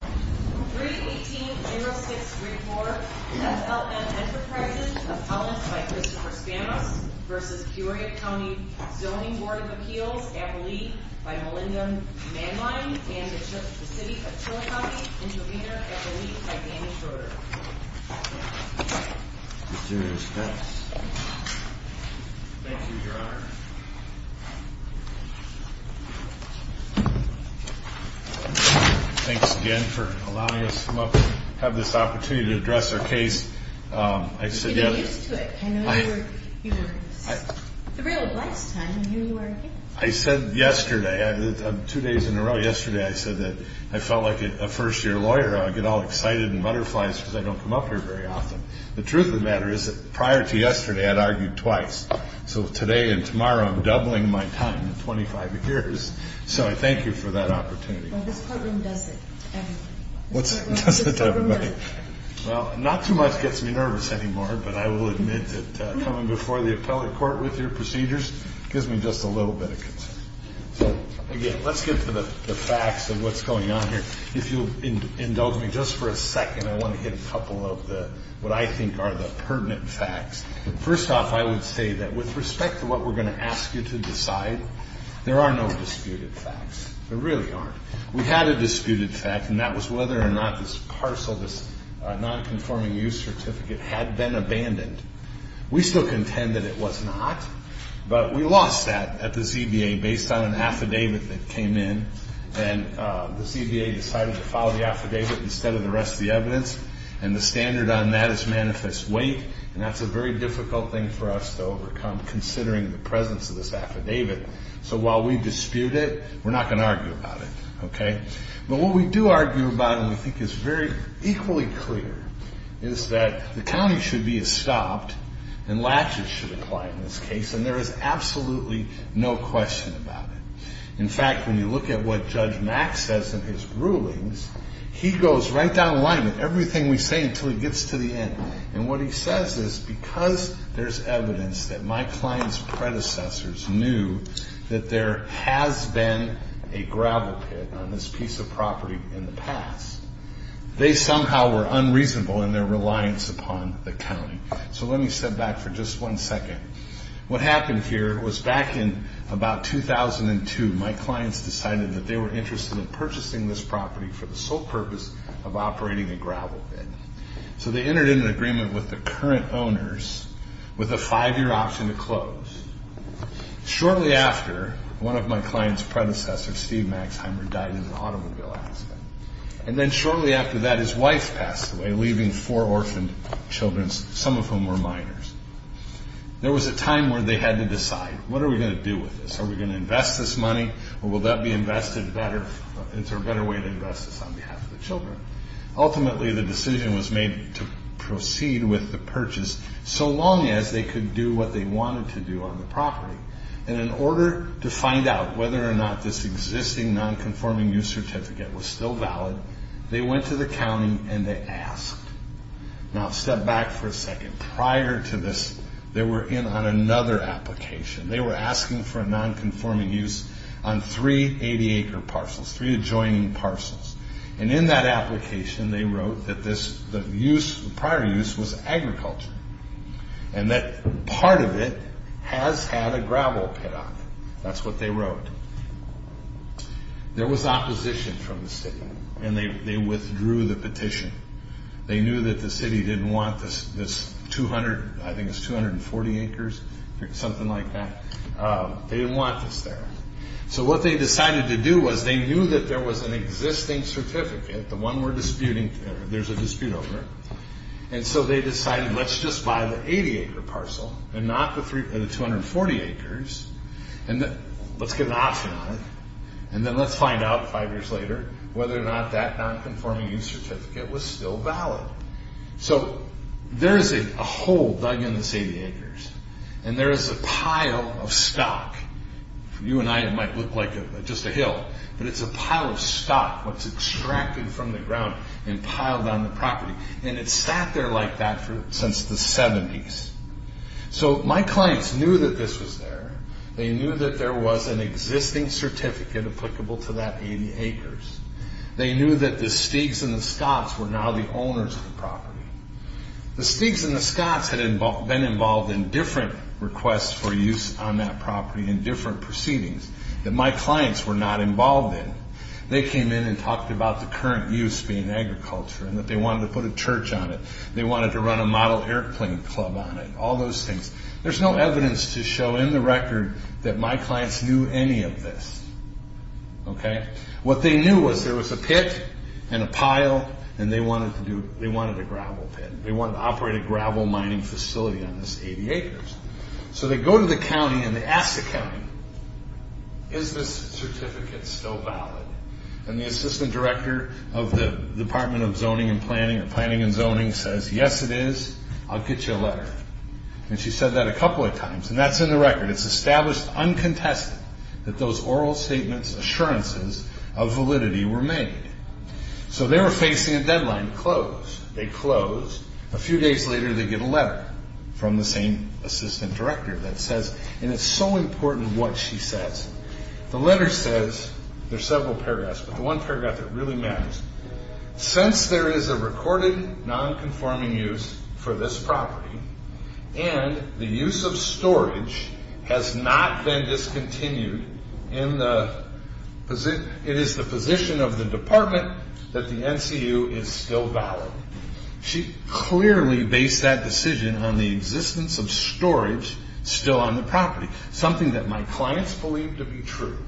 31806 Wigmore, FLM Enterprises, Appellant by Christopher Spanos v. Peoria County Zoning Board of Appeals, Appellee by Melinda Manline and the City of Tula County, Intervenor, Appellee by Danny Schroeder. With due respect. Thank you, Your Honor. Thanks again for allowing us to come up and have this opportunity to address our case. I said yesterday, two days in a row yesterday, I said that I felt like a first year lawyer. I get all excited and butterflies because I don't come up here very often. The truth of the matter is that prior to yesterday I had argued twice. So today and tomorrow I'm doubling my time in 25 years. So I thank you for that opportunity. Well, this courtroom does it to everybody. Does it to everybody? Well, not too much gets me nervous anymore. But I will admit that coming before the appellate court with your procedures gives me just a little bit of concern. Again, let's get to the facts of what's going on here. If you'll indulge me just for a second, I want to hit a couple of what I think are the pertinent facts. First off, I would say that with respect to what we're going to ask you to decide, there are no disputed facts. There really aren't. We had a disputed fact, and that was whether or not this parcel, this nonconforming use certificate had been abandoned. We still contend that it was not. But we lost that at the ZBA based on an affidavit that came in. And the ZBA decided to file the affidavit instead of the rest of the evidence. And the standard on that is manifest weight. And that's a very difficult thing for us to overcome considering the presence of this affidavit. So while we dispute it, we're not going to argue about it. Okay? But what we do argue about and we think is very equally clear is that the county should be stopped and latches should apply in this case. And there is absolutely no question about it. In fact, when you look at what Judge Mack says in his rulings, he goes right down the line with everything we say until he gets to the end. And what he says is because there's evidence that my client's predecessors knew that there has been a gravel pit on this piece of property in the past, they somehow were unreasonable in their reliance upon the county. So let me step back for just one second. What happened here was back in about 2002, my clients decided that they were interested in purchasing this property for the sole purpose of operating a gravel pit. So they entered into an agreement with the current owners with a five-year option to close. Shortly after, one of my client's predecessors, Steve Maxheimer, died in an automobile accident. And then shortly after that, his wife passed away, leaving four orphaned children, some of whom were minors. There was a time where they had to decide, what are we going to do with this? Are we going to invest this money or will that be invested better into a better way to invest this on behalf of the children? Ultimately, the decision was made to proceed with the purchase so long as they could do what they wanted to do on the property. And in order to find out whether or not this existing nonconforming use certificate was still valid, they went to the county and they asked. Now, step back for a second. Prior to this, they were in on another application. They were asking for a nonconforming use on three 80-acre parcels, three adjoining parcels. And in that application, they wrote that the prior use was agriculture and that part of it has had a gravel pit on it. That's what they wrote. There was opposition from the city, and they withdrew the petition. They knew that the city didn't want this 200, I think it's 240 acres, something like that. They didn't want this there. So what they decided to do was they knew that there was an existing certificate, the one we're disputing, there's a dispute over. And so they decided, let's just buy the 80-acre parcel and not the 240 acres, and let's get an option on it. And then let's find out five years later whether or not that nonconforming use certificate was still valid. So there is a hole dug in this 80 acres, and there is a pile of stock. For you and I, it might look like just a hill, but it's a pile of stock that's extracted from the ground and piled on the property. And it's sat there like that since the 70s. So my clients knew that this was there. They knew that there was an existing certificate applicable to that 80 acres. They knew that the Stig's and the Scott's were now the owners of the property. The Stig's and the Scott's had been involved in different requests for use on that property in different proceedings that my clients were not involved in. They came in and talked about the current use being agriculture and that they wanted to put a church on it. They wanted to run a model airplane club on it, all those things. There's no evidence to show in the record that my clients knew any of this. What they knew was there was a pit and a pile, and they wanted a gravel pit. They wanted to operate a gravel mining facility on this 80 acres. So they go to the county and they ask the county, is this certificate still valid? And the assistant director of the Department of Zoning and Planning or Planning and Zoning says, yes, it is. I'll get you a letter. And she said that a couple of times, and that's in the record. It's established uncontested that those oral statements, assurances of validity were made. So they were facing a deadline to close. They closed. A few days later, they get a letter from the same assistant director that says, and it's so important what she says. The letter says, there's several paragraphs, but the one paragraph that really matters, Since there is a recorded non-conforming use for this property, and the use of storage has not been discontinued, it is the position of the department that the NCU is still valid. She clearly based that decision on the existence of storage still on the property, something that my clients believed to be true.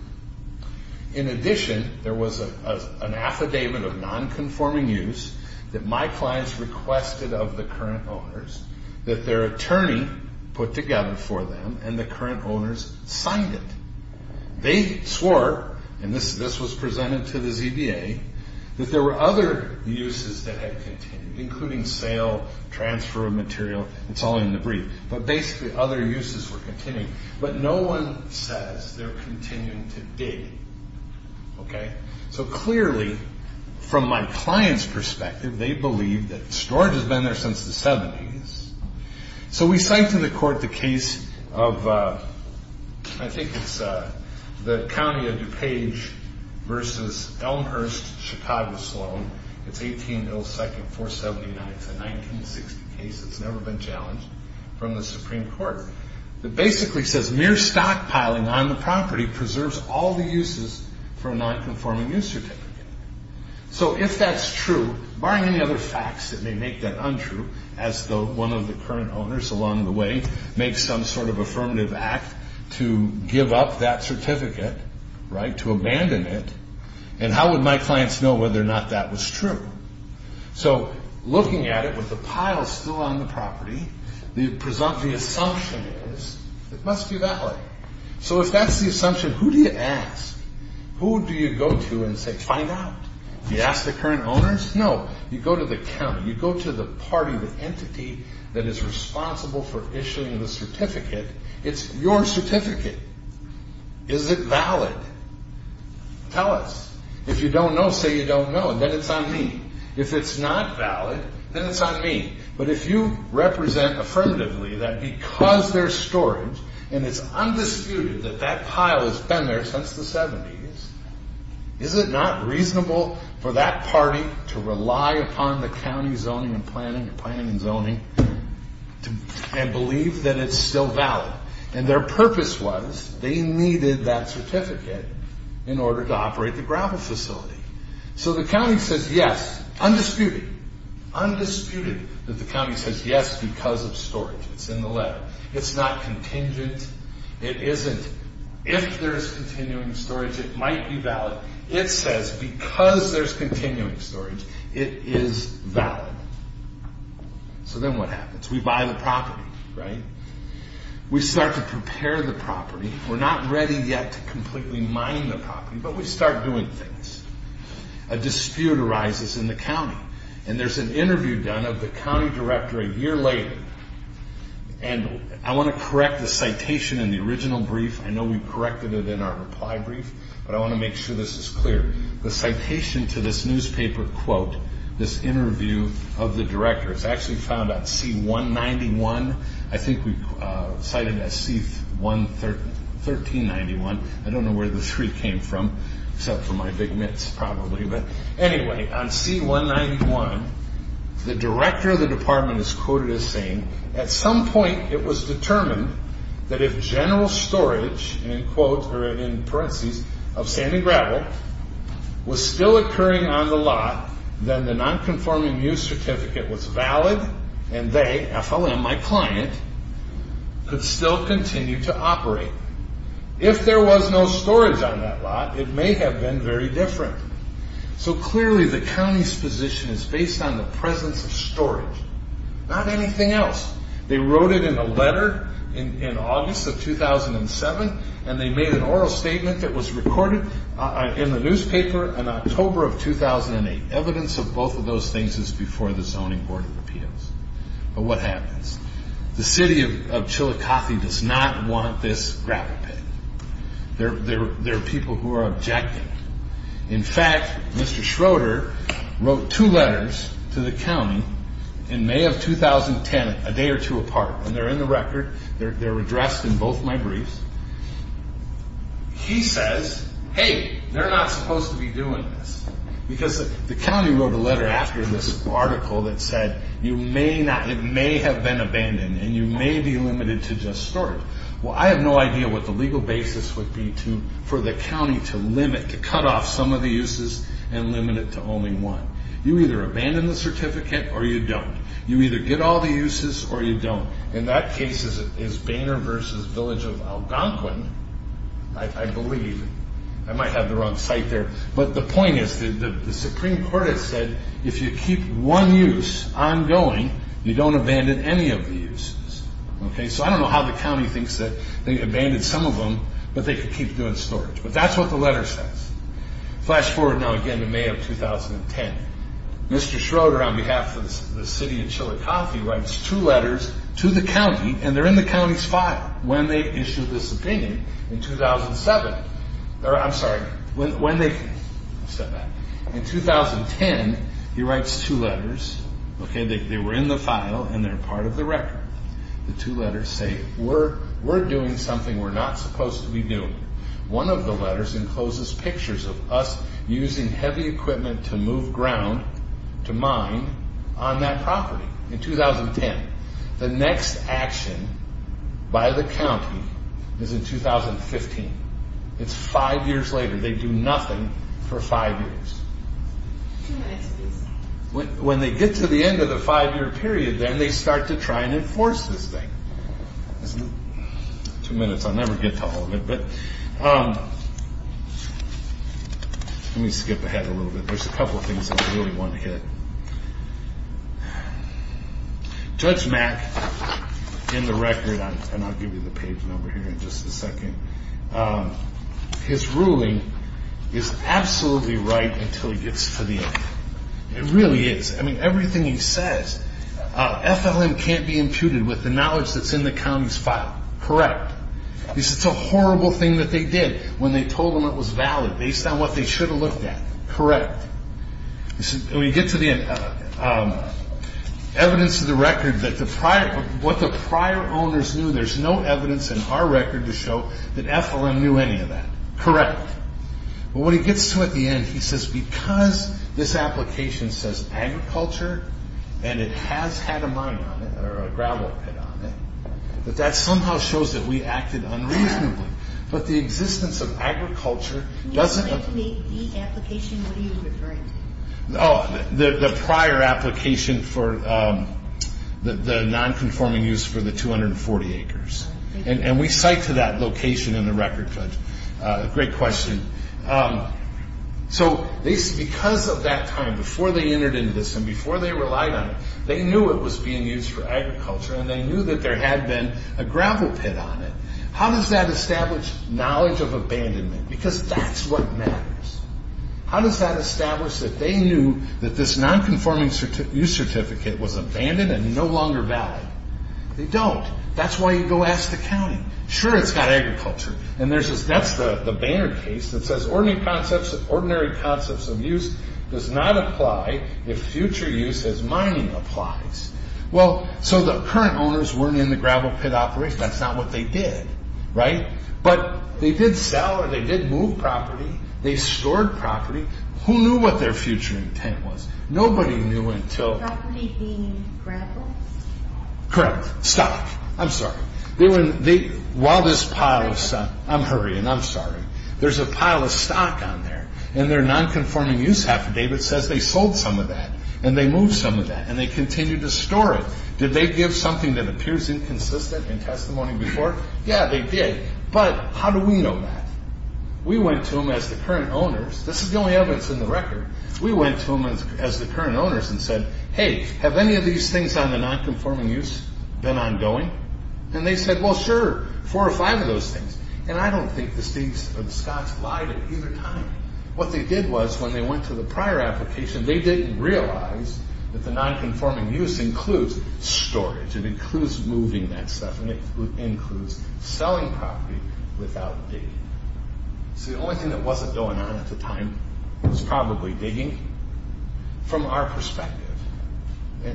In addition, there was an affidavit of non-conforming use that my clients requested of the current owners that their attorney put together for them, and the current owners signed it. They swore, and this was presented to the ZBA, that there were other uses that had continued, including sale, transfer of material. It's all in the brief. But basically, other uses were continuing. But no one says they're continuing to dig. So clearly, from my client's perspective, they believe that storage has been there since the 70s. So we cite to the court the case of, I think it's the County of DuPage versus Elmhurst-Chicago-Sloan. It's 18-02-479. It's a 1960 case that's never been challenged from the Supreme Court. It basically says mere stockpiling on the property preserves all the uses for a non-conforming use certificate. So if that's true, barring any other facts that may make that untrue, as one of the current owners along the way makes some sort of affirmative act to give up that certificate, to abandon it, and how would my clients know whether or not that was true? So looking at it with the pile still on the property, the assumption is it must be valid. So if that's the assumption, who do you ask? Who do you go to and say, find out? Do you ask the current owners? No. You go to the county. You go to the party, the entity that is responsible for issuing the certificate. It's your certificate. Is it valid? Tell us. If you don't know, say you don't know, and then it's on me. If it's not valid, then it's on me. But if you represent affirmatively that because there's storage, and it's undisputed that that pile has been there since the 70s, is it not reasonable for that party to rely upon the county zoning and planning, planning and zoning, and believe that it's still valid? And their purpose was they needed that certificate in order to operate the gravel facility. So the county says yes, undisputed, undisputed that the county says yes because of storage. It's in the letter. It's not contingent. It isn't if there's continuing storage, it might be valid. It says because there's continuing storage, it is valid. So then what happens? We buy the property, right? We start to prepare the property. We're not ready yet to completely mine the property, but we start doing things. A dispute arises in the county, and there's an interview done of the county director a year later. And I want to correct the citation in the original brief. I know we corrected it in our reply brief, but I want to make sure this is clear. The citation to this newspaper quote, this interview of the director, it's actually found on C-191. I think we cited it as C-1391. I don't know where the three came from except for my big mitts probably. But anyway, on C-191, the director of the department is quoted as saying, at some point it was determined that if general storage, in parentheses, of sand and gravel was still occurring on the lot, then the nonconforming use certificate was valid, and they, FLM, my client, could still continue to operate. If there was no storage on that lot, it may have been very different. So clearly the county's position is based on the presence of storage, not anything else. They wrote it in a letter in August of 2007, and they made an oral statement that was recorded in the newspaper in October of 2008. Evidence of both of those things is before the Zoning Board of Appeals. But what happens? The city of Chillicothe does not want this gravel pit. There are people who are objecting. In fact, Mr. Schroeder wrote two letters to the county in May of 2010, a day or two apart. And they're in the record. They're addressed in both my briefs. He says, hey, they're not supposed to be doing this, because the county wrote a letter after this article that said you may not, it may have been abandoned, and you may be limited to just storage. Well, I have no idea what the legal basis would be for the county to limit, to cut off some of the uses and limit it to only one. You either abandon the certificate or you don't. You either get all the uses or you don't. And that case is Boehner v. Village of Algonquin, I believe. I might have the wrong site there. But the point is the Supreme Court has said if you keep one use ongoing, you don't abandon any of the uses. So I don't know how the county thinks that they abandoned some of them, but they could keep doing storage. But that's what the letter says. Flash forward now again to May of 2010. Mr. Schroeder, on behalf of the city of Chillicothe, writes two letters to the county, and they're in the county's file, when they issued this opinion in 2007. I'm sorry, when they said that. In 2010, he writes two letters. They were in the file, and they're part of the record. The two letters say, we're doing something we're not supposed to be doing. One of the letters encloses pictures of us using heavy equipment to move ground to mine on that property in 2010. The next action by the county is in 2015. It's five years later. They do nothing for five years. When they get to the end of the five-year period, then they start to try and enforce this thing. Two minutes. I'll never get to all of it, but let me skip ahead a little bit. There's a couple of things I really want to hit. Judge Mack, in the record, and I'll give you the page number here in just a second, his ruling is absolutely right until he gets to the end. It really is. I mean, everything he says. FLM can't be imputed with the knowledge that's in the county's file. Correct. He says it's a horrible thing that they did when they told them it was valid, based on what they should have looked at. Correct. When we get to the evidence of the record, what the prior owners knew, there's no evidence in our record to show that FLM knew any of that. Correct. What he gets to at the end, he says because this application says agriculture and it has had a mining on it or a gravel pit on it, that that somehow shows that we acted unreasonably. But the existence of agriculture doesn't- The application, what are you referring to? The prior application for the non-conforming use for the 240 acres. And we cite to that location in the record, Judge. Great question. Because of that time, before they entered into this and before they relied on it, they knew it was being used for agriculture and they knew that there had been a gravel pit on it. How does that establish knowledge of abandonment? Because that's what matters. How does that establish that they knew that this non-conforming use certificate was abandoned and no longer valid? They don't. That's why you go ask the county. Sure, it's got agriculture. And that's the Banner case that says ordinary concepts of use does not apply if future use as mining applies. Well, so the current owners weren't in the gravel pit operation. That's not what they did, right? But they did sell or they did move property. They stored property. Who knew what their future intent was? Nobody knew until- Property being gravel? Correct. Stock. I'm sorry. While this pile of- I'm hurrying. I'm sorry. There's a pile of stock on there, and their non-conforming use affidavit says they sold some of that and they moved some of that and they continued to store it. Did they give something that appears inconsistent in testimony before? Yeah, they did. But how do we know that? We went to them as the current owners. This is the only evidence in the record. We went to them as the current owners and said, Hey, have any of these things on the non-conforming use been ongoing? And they said, Well, sure. Four or five of those things. And I don't think the Scots lied at either time. What they did was when they went to the prior application, they didn't realize that the non-conforming use includes storage. It includes moving that stuff. It includes selling property without digging. So the only thing that wasn't going on at the time was probably digging. From our perspective.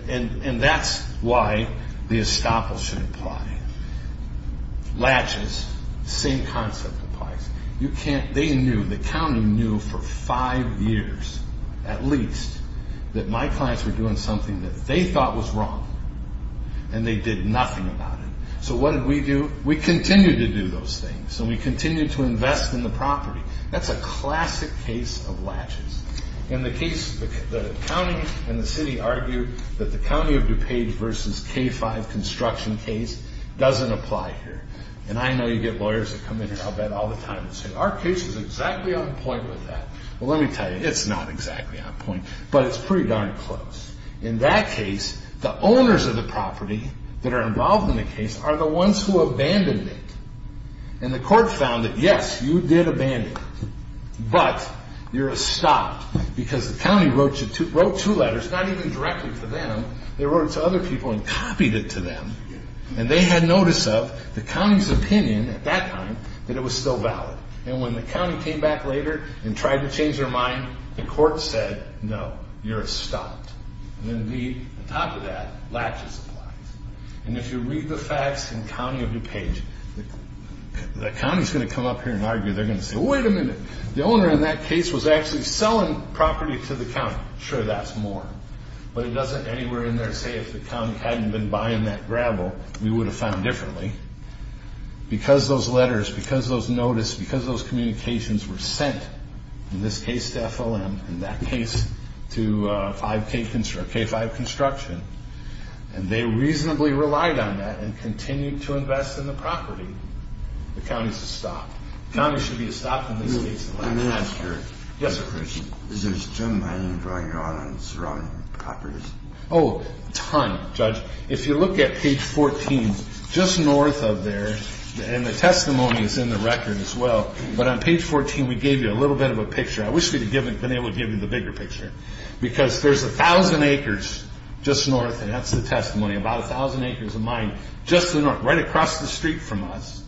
And that's why the estoppel should apply. Latches, same concept applies. They knew, the county knew for five years at least that my clients were doing something that they thought was wrong and they did nothing about it. So what did we do? We continued to do those things and we continued to invest in the property. That's a classic case of latches. In the case, the county and the city argued that the county of DuPage versus K-5 construction case doesn't apply here. And I know you get lawyers that come in here, I'll bet, all the time and say, Our case is exactly on point with that. Well, let me tell you, it's not exactly on point. But it's pretty darn close. In that case, the owners of the property that are involved in the case are the ones who abandoned it. And the court found that, yes, you did abandon it. But you're estopped because the county wrote two letters, not even directly to them. They wrote it to other people and copied it to them. And they had notice of the county's opinion at that time that it was still valid. And when the county came back later and tried to change their mind, the court said, No, you're estopped. And indeed, on top of that, latches apply. And if you read the facts in the county of DuPage, the county is going to come up here and argue. They're going to say, Wait a minute. The owner in that case was actually selling property to the county. Sure, that's more. But it doesn't anywhere in there say if the county hadn't been buying that gravel, we would have found differently. Because those letters, because those notices, because those communications were sent, in this case to FLM, in that case to K-5 Construction, and they reasonably relied on that and continued to invest in the property, the county is estopped. Counties should be estopped in these cases. Let me ask you a question. Yes, sir. Is there still mining going on on surrounding properties? Oh, a ton, Judge. If you look at page 14, just north of there, and the testimony is in the record as well, but on page 14 we gave you a little bit of a picture. I wish we would have been able to give you the bigger picture. Because there's 1,000 acres just north, and that's the testimony, about 1,000 acres of mine just to the north, right across the street from us.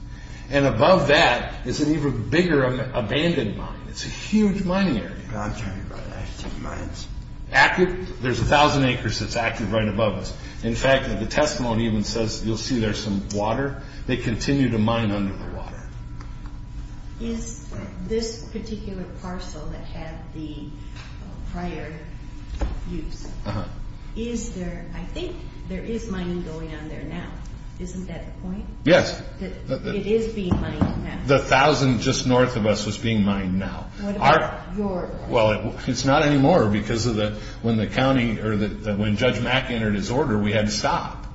And above that is an even bigger abandoned mine. It's a huge mining area. I'm talking about active mines. Active? There's 1,000 acres that's active right above us. In fact, the testimony even says, you'll see there's some water. They continue to mine under the water. Is this particular parcel that had the prior use, is there, I think there is mining going on there now. Isn't that the point? Yes. It is being mined now. The 1,000 just north of us was being mined now. What about your part? Well, it's not anymore because when Judge Mack entered his order, we had to stop.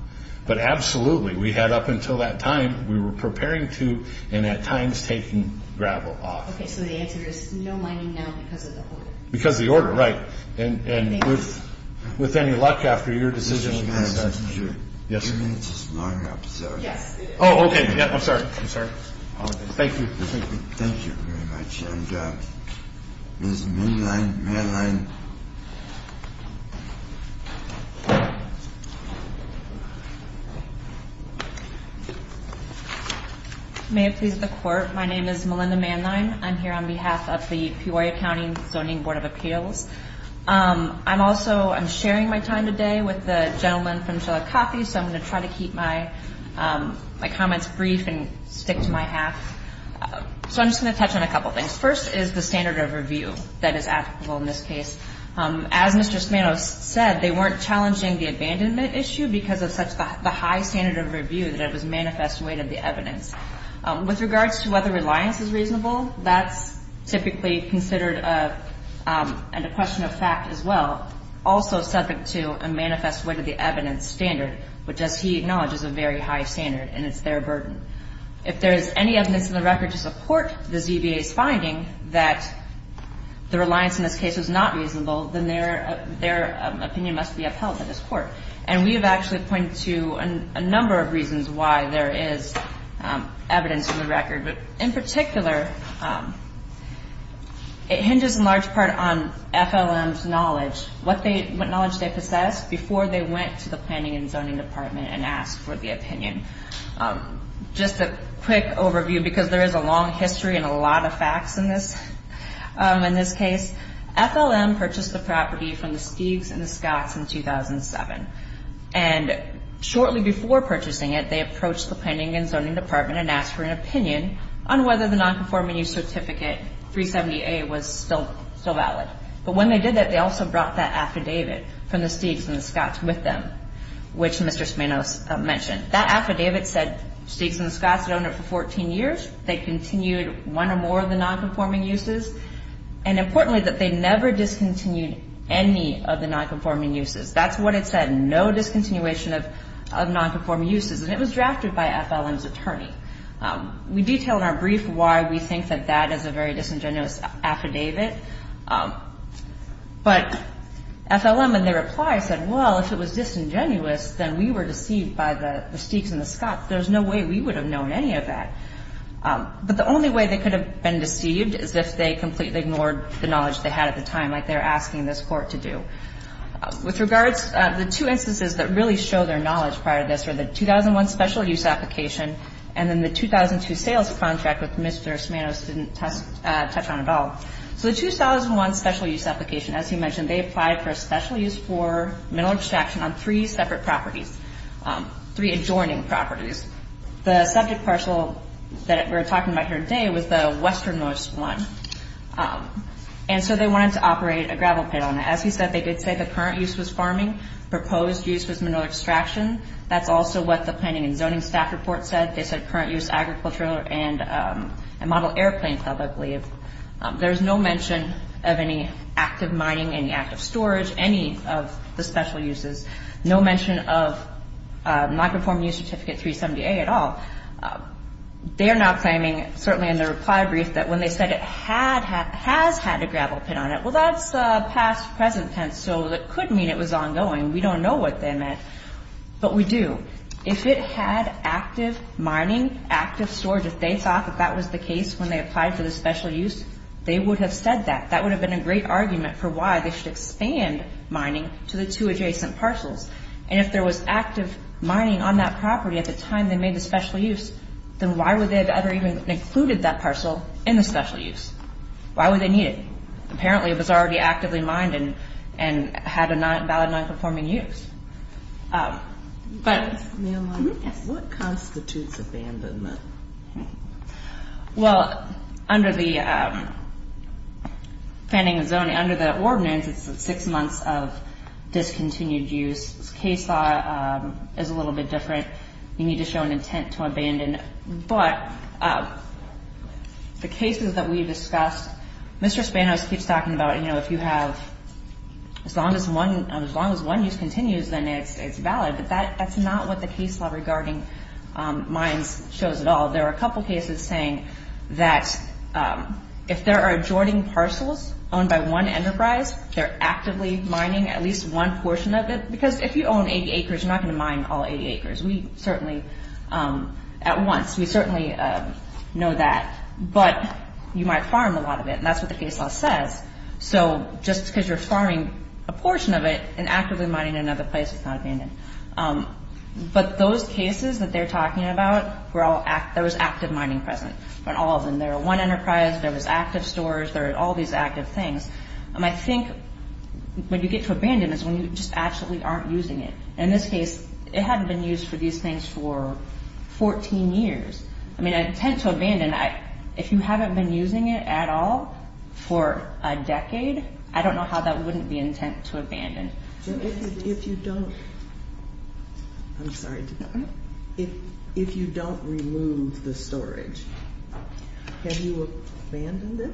But absolutely, we had up until that time, we were preparing to, and at times, taking gravel off. Okay, so the answer is no mining now because of the order. Because of the order, right. And with any luck, after your decision, we might start to do it. Yes, sir. I think it's a smaller episode. Yes, it is. Oh, okay. I'm sorry. I'm sorry. Thank you. Thank you very much. Ms. Manline. May it please the Court, my name is Melinda Manline. I'm here on behalf of the Peoria County Zoning Board of Appeals. I'm also, I'm sharing my time today with the gentleman from Shellac Coffee, so I'm going to try to keep my comments brief and stick to my half. So I'm just going to touch on a couple things. First is the standard of review that is applicable in this case. As Mr. Smanow said, they weren't challenging the abandonment issue because of such the high standard of review that it was manifest way to the evidence. With regards to whether reliance is reasonable, that's typically considered a question of fact as well. Also subject to a manifest way to the evidence standard, which, as he acknowledges, is a very high standard, and it's their burden. If there is any evidence in the record to support the ZBA's finding that the reliance in this case is not reasonable, then their opinion must be upheld by this Court. And we have actually pointed to a number of reasons why there is evidence in the record. But in particular, it hinges in large part on FLM's knowledge, what knowledge they possessed before they went to the Planning and Zoning Department and asked for the opinion. Just a quick overview, because there is a long history and a lot of facts in this case. FLM purchased the property from the Stiegs and the Scotts in 2007. And shortly before purchasing it, they approached the Planning and Zoning Department and asked for an opinion on whether the Nonconforming Use Certificate 370A was still valid. But when they did that, they also brought that affidavit from the Stiegs and the Scotts with them, which Mr. Smanow mentioned. That affidavit said Stiegs and the Scotts had owned it for 14 years. They continued one or more of the nonconforming uses. And importantly, that they never discontinued any of the nonconforming uses. That's what it said, no discontinuation of nonconforming uses. And it was drafted by FLM's attorney. We detail in our brief why we think that that is a very disingenuous affidavit. But FLM, in their reply, said, well, if it was disingenuous, then we were deceived by the Stiegs and the Scotts. There's no way we would have known any of that. But the only way they could have been deceived is if they completely ignored the knowledge they had at the time, like they're asking this Court to do. With regards, the two instances that really show their knowledge prior to this are the 2001 special use application and then the 2002 sales contract, which Mr. Smanow didn't touch on at all. So the 2001 special use application, as he mentioned, they applied for a special use for mineral extraction on three separate properties, three adjoining properties. The subject parcel that we're talking about here today was the westernmost one. And so they wanted to operate a gravel pit on it. As he said, they did say the current use was farming. Proposed use was mineral extraction. That's also what the planning and zoning staff report said. They said current use agricultural and model airplane club, I believe. There's no mention of any active mining, any active storage, any of the special uses. No mention of non-conforming use certificate 370A at all. They are now claiming, certainly in their reply brief, that when they said it has had a gravel pit on it, well, that's past, present tense. So it could mean it was ongoing. We don't know what they meant. But we do. If it had active mining, active storage, if they thought that that was the case when they applied for the special use, they would have said that. That would have been a great argument for why they should expand mining to the two adjacent parcels. And if there was active mining on that property at the time they made the special use, then why would they have ever even included that parcel in the special use? Why would they need it? Apparently it was already actively mined and had a valid non-conforming use. But... What constitutes abandonment? Well, under the Fanning and Zoney, under the ordinance, it's six months of discontinued use. This case law is a little bit different. You need to show an intent to abandon. But the cases that we discussed, Mr. Spanos keeps talking about, you know, if you have as long as one use continues, then it's valid. But that's not what the case law regarding mines shows at all. There are a couple cases saying that if there are adjoining parcels owned by one enterprise, they're actively mining at least one portion of it. Because if you own 80 acres, you're not going to mine all 80 acres. We certainly, at once, we certainly know that. But you might farm a lot of it. And that's what the case law says. So just because you're farming a portion of it and actively mining another place, it's not abandoned. But those cases that they're talking about, there was active mining present in all of them. There were one enterprise, there was active stores, there were all these active things. I think when you get to abandonment is when you just actually aren't using it. In this case, it hadn't been used for these things for 14 years. I mean, intent to abandon. If you haven't been using it at all for a decade, I don't know how that wouldn't be intent to abandon. If you don't remove the storage, have you abandoned it?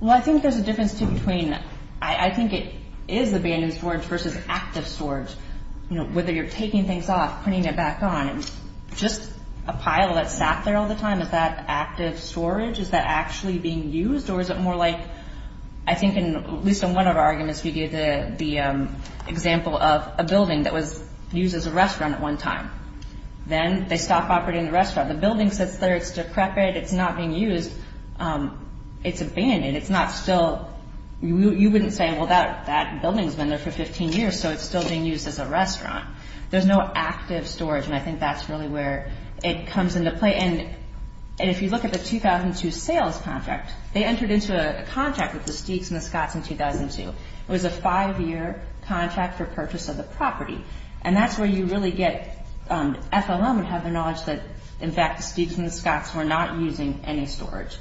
Well, I think there's a difference between I think it is abandoned storage versus active storage. Whether you're taking things off, putting it back on, just a pile that sat there all the time, is that active storage? Is that actually being used? Or is it more like I think at least in one of our arguments we gave the example of a building that was used as a restaurant at one time. Then they stopped operating the restaurant. The building sits there. It's decrepit. It's not being used. It's abandoned. You wouldn't say, well, that building's been there for 15 years, so it's still being used as a restaurant. There's no active storage, and I think that's really where it comes into play. And if you look at the 2002 sales contract, they entered into a contract with the Steaks and the Scots in 2002. It was a five-year contract for purchase of the property. And that's where you really get FOM and have the knowledge that, in fact, the Steaks and the Scots were not using any storage.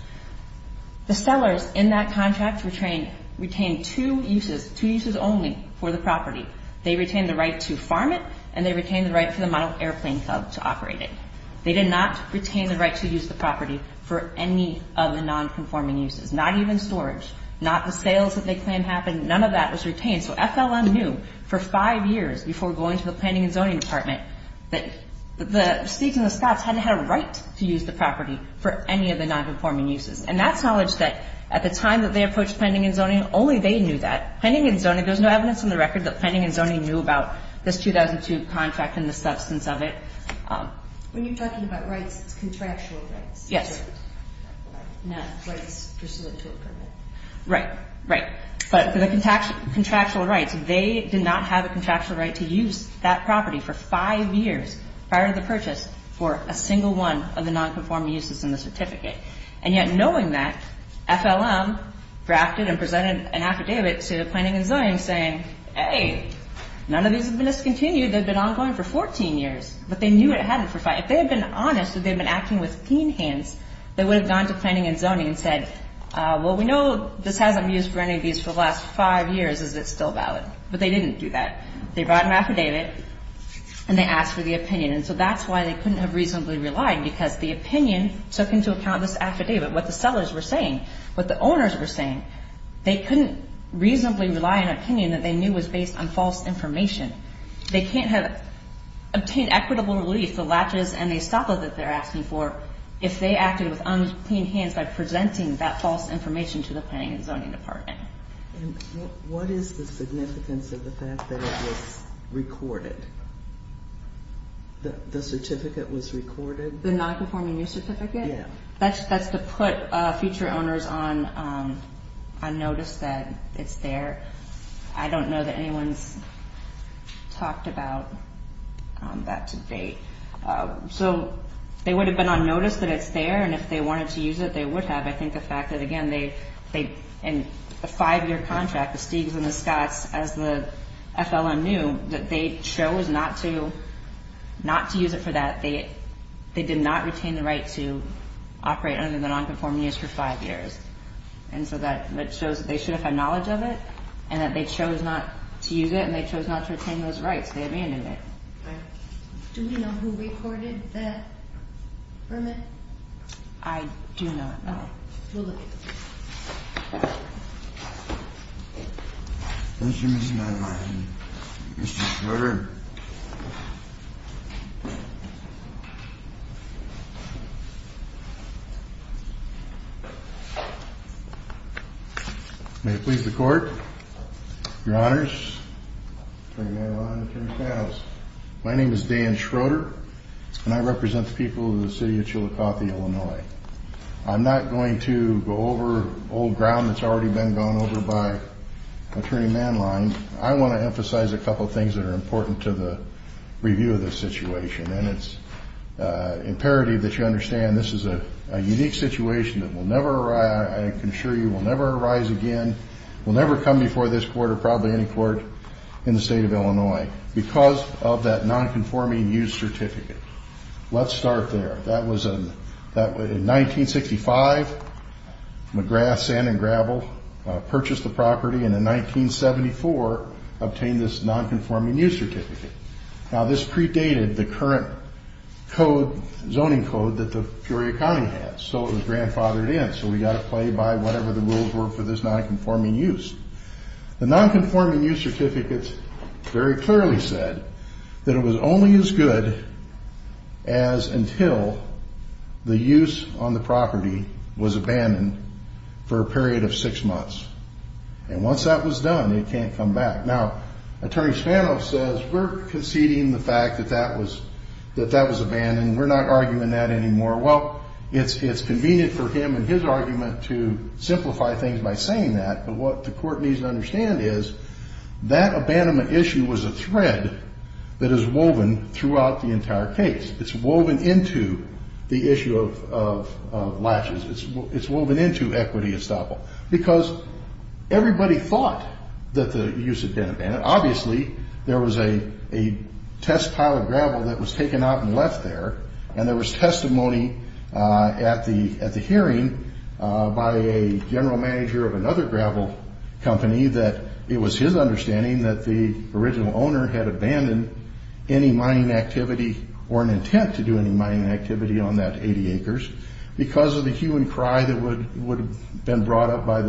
The sellers in that contract retained two uses, two uses only for the property. They retained the right to farm it, and they retained the right for the model airplane hub to operate it. They did not retain the right to use the property for any of the nonconforming uses, not even storage, not the sales that they planned happened. None of that was retained. So FLM knew for five years before going to the Planning and Zoning Department that the Steaks and the Scots hadn't had a right to use the property for any of the nonconforming uses. And that's knowledge that, at the time that they approached Planning and Zoning, only they knew that. Planning and Zoning, there's no evidence on the record that Planning and Zoning knew about this 2002 contract and the substance of it. When you're talking about rights, it's contractual rights. Yes. Not rights pursuant to a permit. Right, right. But for the contractual rights, they did not have a contractual right to use that property for five years prior to the purchase for a single one of the nonconforming uses in the certificate. And yet knowing that, FLM drafted and presented an affidavit to Planning and Zoning saying, hey, none of these have been discontinued. They've been ongoing for 14 years. But they knew it hadn't for five. If they had been honest, if they had been acting with keen hands, they would have gone to Planning and Zoning and said, well, we know this hasn't been used for any of these for the last five years. Is it still valid? But they didn't do that. They brought an affidavit, and they asked for the opinion. And so that's why they couldn't have reasonably relied, because the opinion took into account this affidavit, what the sellers were saying, what the owners were saying. They couldn't reasonably rely on an opinion that they knew was based on false information. They can't have obtained equitable relief, the latches and the estoppel that they're asking for, if they acted with unclean hands by presenting that false information to the Planning and Zoning Department. And what is the significance of the fact that it was recorded, that the certificate was recorded? The nonconforming use certificate? Yeah. That's to put future owners on notice that it's there. I don't know that anyone's talked about that to date. So they would have been on notice that it's there, and if they wanted to use it, they would have. I think the fact that, again, they – and the five-year contract, the Stig's and the Scott's, as the FLN knew, that they chose not to use it for that, they did not retain the right to operate under the nonconforming use for five years. And so that shows that they should have had knowledge of it, and that they chose not to use it, and they chose not to retain those rights. They abandoned it. Do we know who recorded that permit? I do not know. We'll look into it. Thank you, Mr. Madeline and Mr. Schroeder. May it please the Court, Your Honors. Attorney Madeline, Attorney Katz. My name is Dan Schroeder, and I represent the people of the city of Chillicothe, Illinois. I'm not going to go over old ground that's already been gone over by Attorney Madeline. I want to emphasize a couple of things that are important to the review of this situation, and it's imperative that you understand this is a unique situation that will never arise – I can assure you will never arise again, will never come before this Court or probably any court in the state of Illinois because of that nonconforming use certificate. Let's start there. In 1965, McGrath, Sand & Gravel purchased the property, and in 1974 obtained this nonconforming use certificate. Now, this predated the current zoning code that the Peoria County has, so it was grandfathered in, so we've got to play by whatever the rules were for this nonconforming use. The nonconforming use certificate very clearly said that it was only as good as until the use on the property was abandoned for a period of six months, and once that was done, it can't come back. Now, Attorney Spanoff says we're conceding the fact that that was abandoned. We're not arguing that anymore. Well, it's convenient for him and his argument to simplify things by saying that, but what the Court needs to understand is that abandonment issue was a thread that is woven throughout the entire case. It's woven into the issue of latches. It's woven into equity estoppel because everybody thought that the use had been abandoned. Obviously, there was a test pile of gravel that was taken out and left there, and there was testimony at the hearing by a general manager of another gravel company that it was his understanding that the original owner had abandoned any mining activity or an intent to do any mining activity on that 80 acres because of the hue and cry that would have been brought up by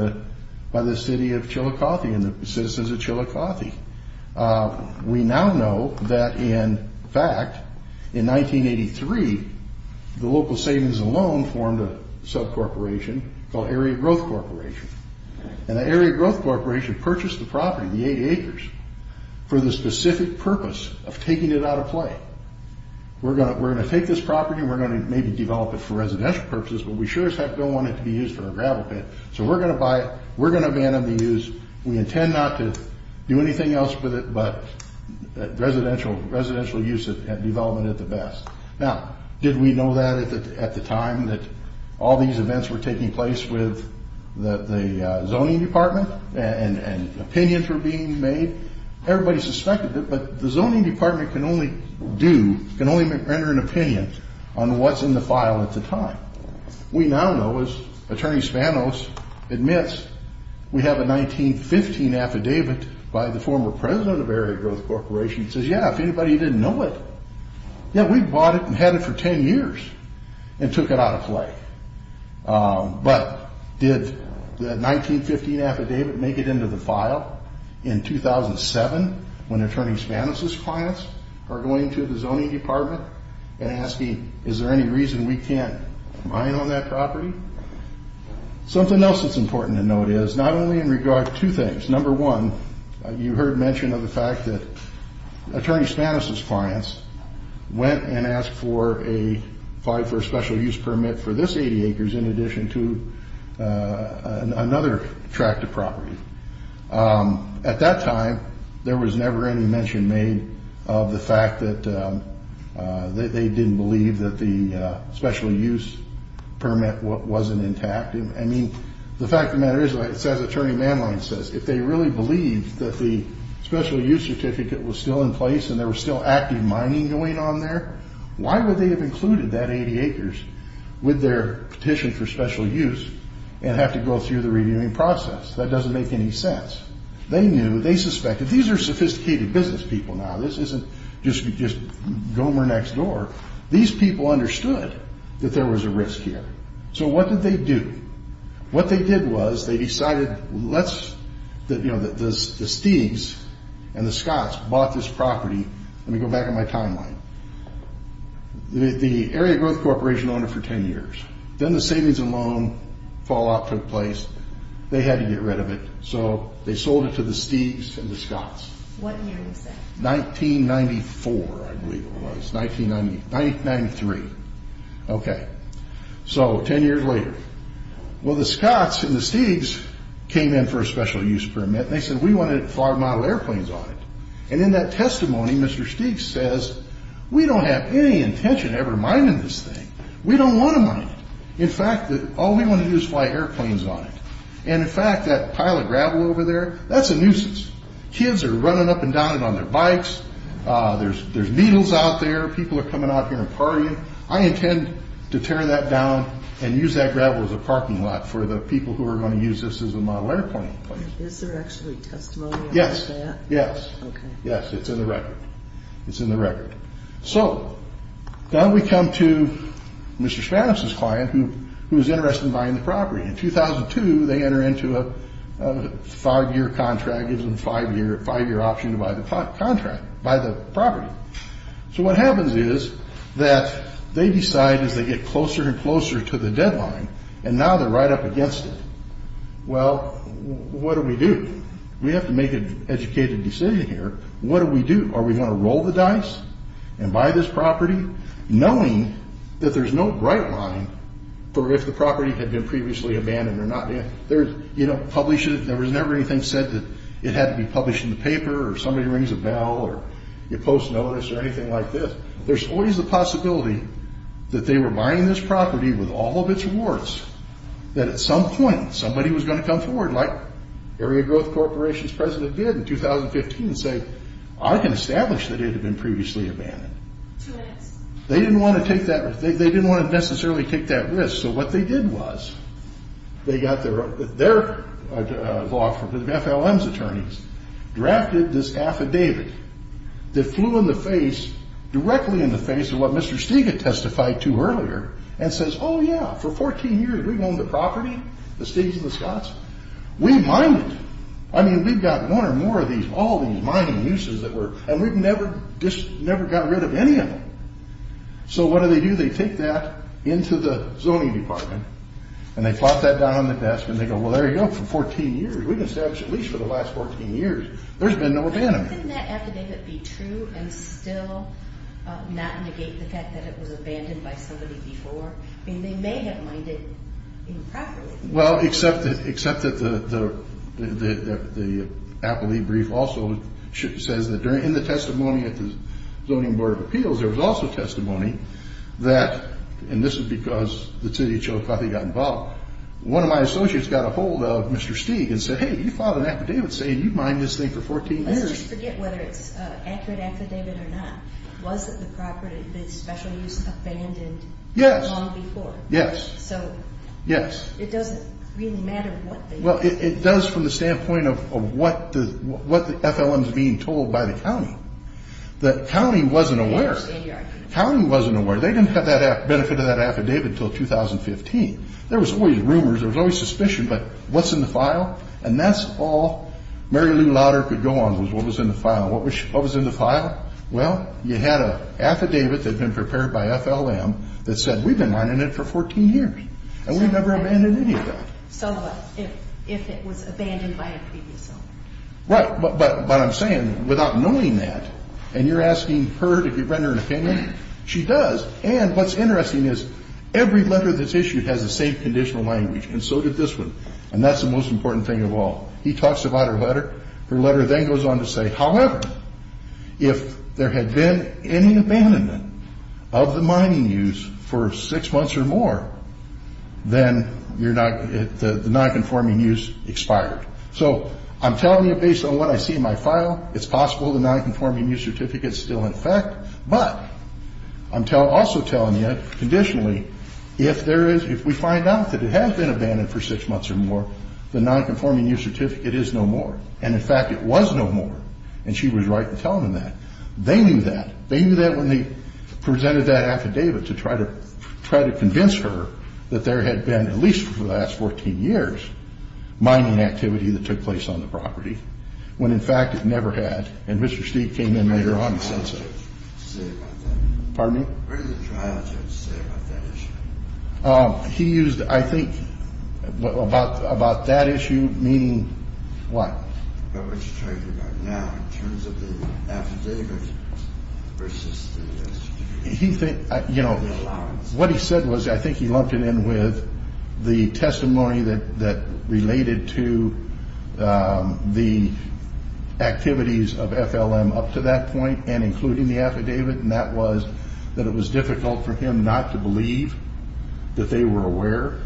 the city of Chillicothe and the citizens of Chillicothe. We now know that, in fact, in 1983, the local savings and loan formed a subcorporation called Area Growth Corporation, and the Area Growth Corporation purchased the property, the 80 acres, for the specific purpose of taking it out of play. We're going to take this property and we're going to maybe develop it for residential purposes, but we sure as heck don't want it to be used for a gravel pit, so we're going to buy it. We're going to abandon the use. We intend not to do anything else with it but residential use and development at the best. Now, did we know that at the time that all these events were taking place with the zoning department and opinions were being made? Everybody suspected it, but the zoning department can only do, can only render an opinion on what's in the file at the time. We now know, as Attorney Spanos admits, we have a 1915 affidavit by the former president of Area Growth Corporation. He says, yeah, if anybody didn't know it, yeah, we bought it and had it for 10 years and took it out of play. But did the 1915 affidavit make it into the file in 2007 when Attorney Spanos' clients are going to the zoning department and asking, is there any reason we can't mine on that property? Something else that's important to note is not only in regard to two things. Number one, you heard mention of the fact that Attorney Spanos' clients went and asked for a, applied for a special use permit for this 80 acres in addition to another tract of property. At that time, there was never any mention made of the fact that they didn't believe that the special use permit wasn't intact. I mean, the fact of the matter is, as Attorney Manline says, if they really believed that the special use certificate was still in place and there was still active mining going on there, why would they have included that 80 acres with their petition for special use and have to go through the reviewing process? That doesn't make any sense. They knew, they suspected, these are sophisticated business people now. This isn't just Gomer next door. These people understood that there was a risk here. So what did they do? What they did was they decided, let's, you know, the Stig's and the Scott's bought this property. Let me go back in my timeline. The area growth corporation owned it for 10 years. Then the savings and loan fallout took place. They had to get rid of it. So they sold it to the Stig's and the Scott's. What year is that? 1994, I believe it was. 1993. Okay. So 10 years later. Well, the Scott's and the Stig's came in for a special use permit. And they said, we wanted to fly model airplanes on it. And in that testimony, Mr. Stig's says, we don't have any intention of ever mining this thing. We don't want to mine it. In fact, all we want to do is fly airplanes on it. And, in fact, that pile of gravel over there, that's a nuisance. Kids are running up and down it on their bikes. There's needles out there. People are coming out here and partying. I intend to tear that down and use that gravel as a parking lot for the people who are going to use this as a model airplane. Is there actually testimony on that? Yes. Okay. Yes, it's in the record. It's in the record. So now we come to Mr. Spanoff's client, who is interested in buying the property. In 2002, they enter into a five-year contract. It gives them a five-year option to buy the property. So what happens is that they decide as they get closer and closer to the deadline, and now they're right up against it. Well, what do we do? We have to make an educated decision here. What do we do? Are we going to roll the dice and buy this property, knowing that there's no bright line for if the property had been previously abandoned or not? You don't publish it. There was never anything said that it had to be published in the paper or somebody rings a bell or you post notice or anything like this. There's always the possibility that they were buying this property with all of its rewards, that at some point somebody was going to come forward like Area Growth Corporation's president did in 2015 and say, I can establish that it had been previously abandoned. They didn't want to take that risk. They didn't want to necessarily take that risk. So what they did was they got their law firm, the FLM's attorneys, drafted this affidavit that flew in the face, directly in the face of what Mr. Stiga testified to earlier and says, oh, yeah, for 14 years we've owned the property, the Stigas and the Scotts. We mined it. I mean, we've got one or more of these, all these mining uses, and we've never got rid of any of them. So what do they do? They take that into the zoning department and they plot that down on the desk and they go, well, there you go, for 14 years. We've established a lease for the last 14 years. There's been no abandonment. Couldn't that affidavit be true and still not negate the fact that it was abandoned by somebody before? I mean, they may have mined it improperly. Well, except that the appellee brief also says that in the testimony at the Zoning Board of Appeals, there was also testimony that, and this is because the city of Chillicothe got involved, one of my associates got a hold of Mr. Stiga and said, hey, you filed an affidavit saying you mined this thing for 14 years. Let's just forget whether it's an accurate affidavit or not. Was it the property that Special Use abandoned long before? Yes. So it doesn't really matter what they did. Well, it does from the standpoint of what the FLM is being told by the county. The county wasn't aware. I understand your argument. The county wasn't aware. They didn't have that benefit of that affidavit until 2015. There was always rumors. There was always suspicion. But what's in the file? And that's all Mary Lou Lauder could go on was what was in the file. What was in the file? Well, you had an affidavit that had been prepared by FLM that said we've been mining it for 14 years, and we've never abandoned any of that. So what if it was abandoned by a previous owner? Right. But I'm saying without knowing that, and you're asking her to render an opinion, she does. And what's interesting is every letter that's issued has the same conditional language, and so did this one. And that's the most important thing of all. He talks about her letter. Her letter then goes on to say, however, if there had been any abandonment of the mining use for six months or more, then the nonconforming use expired. So I'm telling you based on what I see in my file, it's possible the nonconforming use certificate is still in effect. But I'm also telling you, conditionally, if we find out that it has been abandoned for six months or more, the nonconforming use certificate is no more. And, in fact, it was no more. And she was right to tell them that. They knew that. They knew that when they presented that affidavit to try to convince her that there had been, at least for the last 14 years, mining activity that took place on the property, when, in fact, it never had. And Mr. Steed came in later on and said so. Where did the trial judge say about that? Pardon me? Where did the trial judge say about that issue? He used, I think, about that issue, meaning what? About what you're talking about now in terms of the affidavit versus the allowance. What he said was, I think he lumped it in with the testimony that related to the activities of FLM up to that point and including the affidavit, and that was that it was difficult for him not to believe that they were aware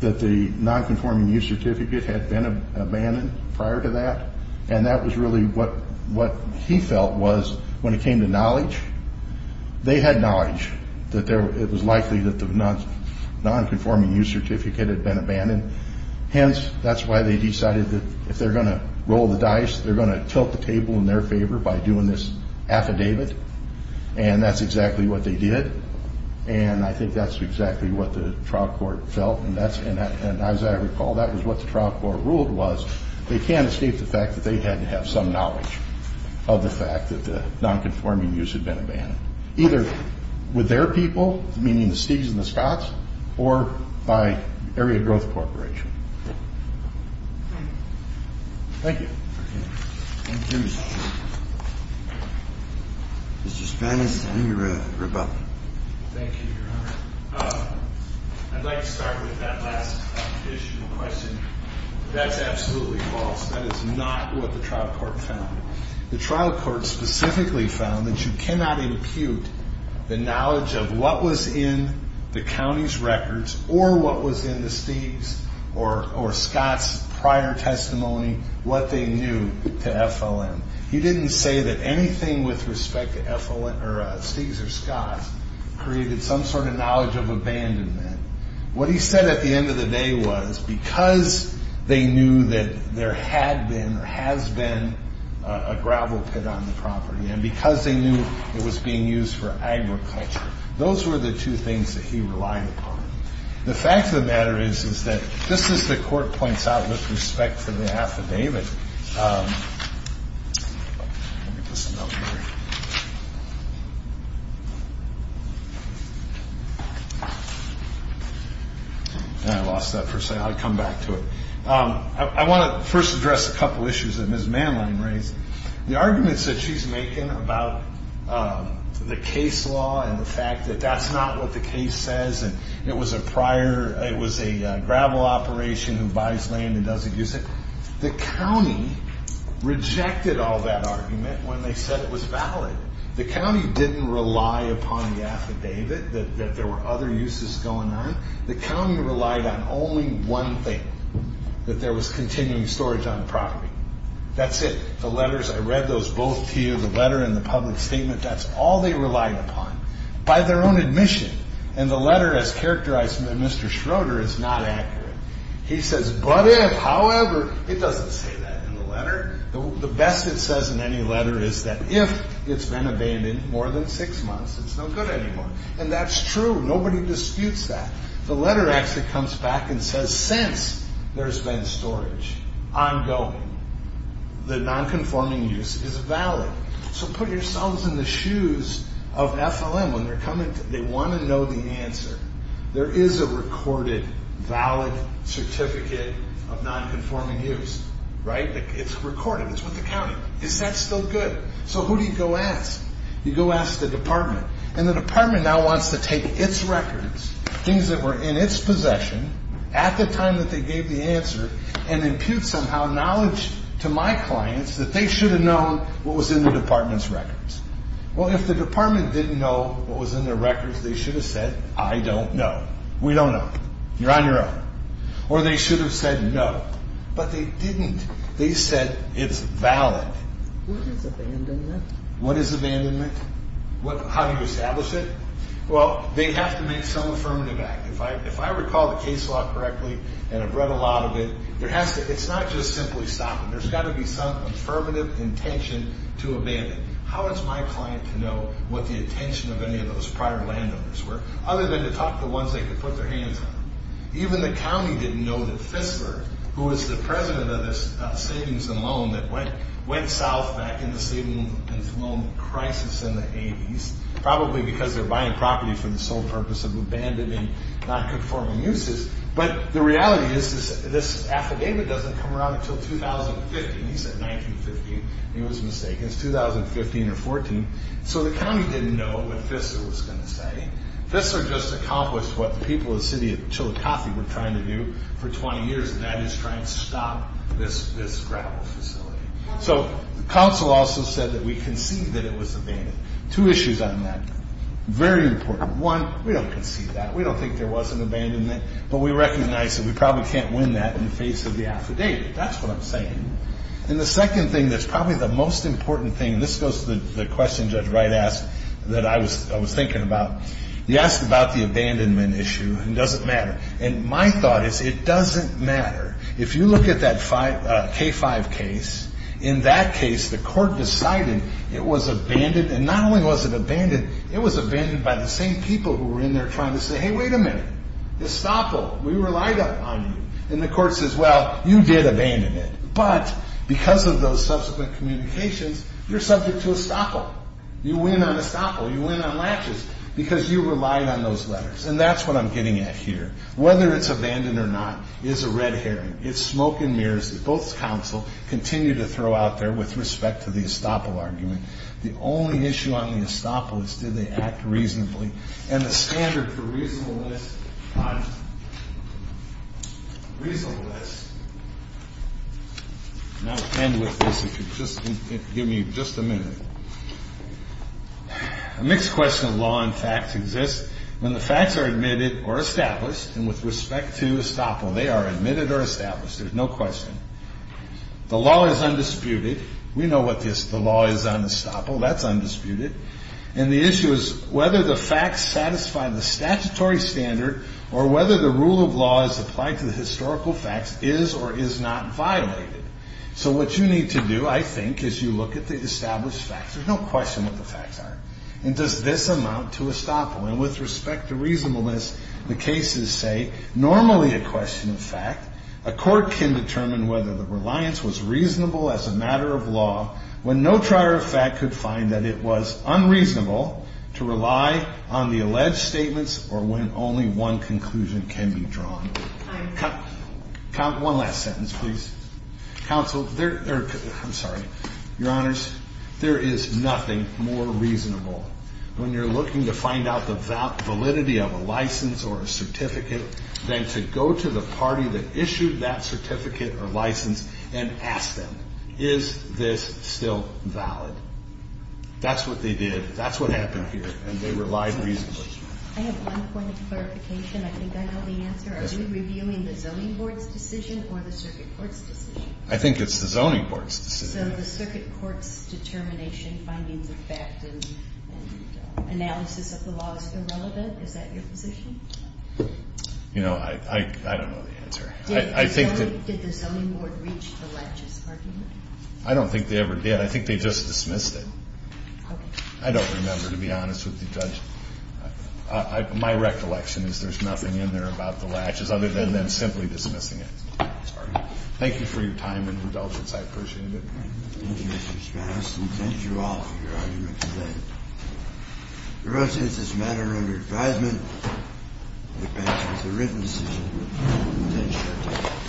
that the nonconforming use certificate had been abandoned prior to that. And that was really what he felt was, when it came to knowledge, they had knowledge that it was likely that the nonconforming use certificate had been abandoned. Hence, that's why they decided that if they're going to roll the dice, they're going to tilt the table in their favor by doing this affidavit, and that's exactly what they did. And I think that's exactly what the trial court felt, and as I recall, that was what the trial court ruled was they can't escape the fact that they had to have some knowledge of the fact that the nonconforming use had been abandoned, either with their people, meaning the Steeds and the Scotts, or by Area Growth Corporation. Thank you. Thank you, Mr. Chairman. Mr. Spannis, any rebuttal? Thank you, Your Honor. I'd like to start with that last additional question. That's absolutely false. That is not what the trial court found. The trial court specifically found that you cannot impute the knowledge of what was in the county's records or what was in the Steeds' or Scotts' prior testimony, what they knew to FLM. He didn't say that anything with respect to Steeds or Scotts created some sort of knowledge of abandonment. What he said at the end of the day was because they knew that there had been or has been a gravel pit on the property and because they knew it was being used for agriculture, those were the two things that he relied upon. The fact of the matter is, is that just as the court points out with respect to the affidavit, I lost that first slide. I'll come back to it. I want to first address a couple of issues that Ms. Manline raised. The arguments that she's making about the case law and the fact that that's not what the case says and it was a gravel operation who buys land and doesn't use it, the county rejected all that argument when they said it was valid. The county didn't rely upon the affidavit that there were other uses going on. The county relied on only one thing, that there was continuing storage on the property. That's it. The letters, I read those both to you. The letter and the public statement, that's all they relied upon. By their own admission and the letter as characterized by Mr. Schroeder is not accurate. He says, but if, however, it doesn't say that in the letter. The best it says in any letter is that if it's been abandoned more than six months, it's no good anymore. And that's true. Nobody disputes that. The letter actually comes back and says, since there's been storage ongoing, the non-conforming use is valid. So put yourselves in the shoes of FLM when they're coming. They want to know the answer. There is a recorded valid certificate of non-conforming use, right? It's recorded. It's with the county. Is that still good? So who do you go ask? You go ask the department. And the department now wants to take its records, things that were in its possession at the time that they gave the answer, and impute somehow knowledge to my clients that they should have known what was in the department's records. Well, if the department didn't know what was in their records, they should have said, I don't know. We don't know. You're on your own. Or they should have said no. But they didn't. They said it's valid. What is abandonment? How do you establish it? Well, they have to make some affirmative act. If I recall the case law correctly, and I've read a lot of it, it's not just simply stopping. There's got to be some affirmative intention to abandon. How is my client to know what the intention of any of those prior landowners were, other than to talk to the ones they could put their hands on? Even the county didn't know that Fissler, who was the president of this savings and loan that went south back in the savings and loan crisis in the 80s, probably because they're buying property for the sole purpose of abandoning, not conforming uses. But the reality is this affidavit doesn't come around until 2015. He said 1915. He was mistaken. It's 2015 or 14. So the county didn't know what Fissler was going to say. Fissler just accomplished what the people of the city of Chillicothe were trying to do for 20 years, and that is try and stop this gravel facility. So the council also said that we concede that it was abandoned. Two issues on that. Very important. One, we don't concede that. We don't think there was an abandonment, but we recognize that we probably can't win that in the face of the affidavit. That's what I'm saying. And the second thing that's probably the most important thing, and this goes to the question Judge Wright asked that I was thinking about, he asked about the abandonment issue and does it matter. And my thought is it doesn't matter. If you look at that K-5 case, in that case the court decided it was abandoned. And not only was it abandoned, it was abandoned by the same people who were in there trying to say, hey, wait a minute. Estoppel, we relied on you. And the court says, well, you did abandon it, but because of those subsequent communications, you're subject to Estoppel. You win on Estoppel. You win on latches because you relied on those letters. And that's what I'm getting at here. Whether it's abandoned or not is a red herring. It's smoke and mirrors that both counsel continue to throw out there with respect to the Estoppel argument. The only issue on the Estoppel is did they act reasonably. And the standard for reasonableness on reasonableness, and I'll end with this if you just give me just a minute. A mixed question of law and facts exists when the facts are admitted or established and with respect to Estoppel. They are admitted or established. There's no question. The law is undisputed. We know what the law is on Estoppel. That's undisputed. And the issue is whether the facts satisfy the statutory standard or whether the rule of law is applied to the historical facts is or is not violated. So what you need to do, I think, is you look at the established facts. There's no question what the facts are. And does this amount to Estoppel? And with respect to reasonableness, the cases say normally a question of fact. A court can determine whether the reliance was reasonable as a matter of law when no trier of fact could find that it was unreasonable to rely on the alleged statements or when only one conclusion can be drawn. One last sentence, please. Counsel, I'm sorry. Your Honors, there is nothing more reasonable when you're looking to find out the validity of a license or a certificate than to go to the party that issued that certificate or license and ask them, is this still valid? That's what they did. That's what happened here. And they relied reasonably. I have one point of clarification. I think I know the answer. Are you reviewing the Zoning Board's decision or the Circuit Court's decision? I think it's the Zoning Board's decision. So the Circuit Court's determination, findings of fact, and analysis of the law is still relevant? Is that your position? You know, I don't know the answer. Did the Zoning Board reach the legis argument? I don't think they ever did. I think they just dismissed it. Okay. I don't remember, to be honest with you, Judge. My recollection is there's nothing in there about the latches other than them simply dismissing it. I'm sorry. Thank you for your time and indulgence. I appreciate it. Thank you, Mr. Spanis. Thank you all for your argument today. The rest of this matter under advisement. It passes the written decision. Thank you.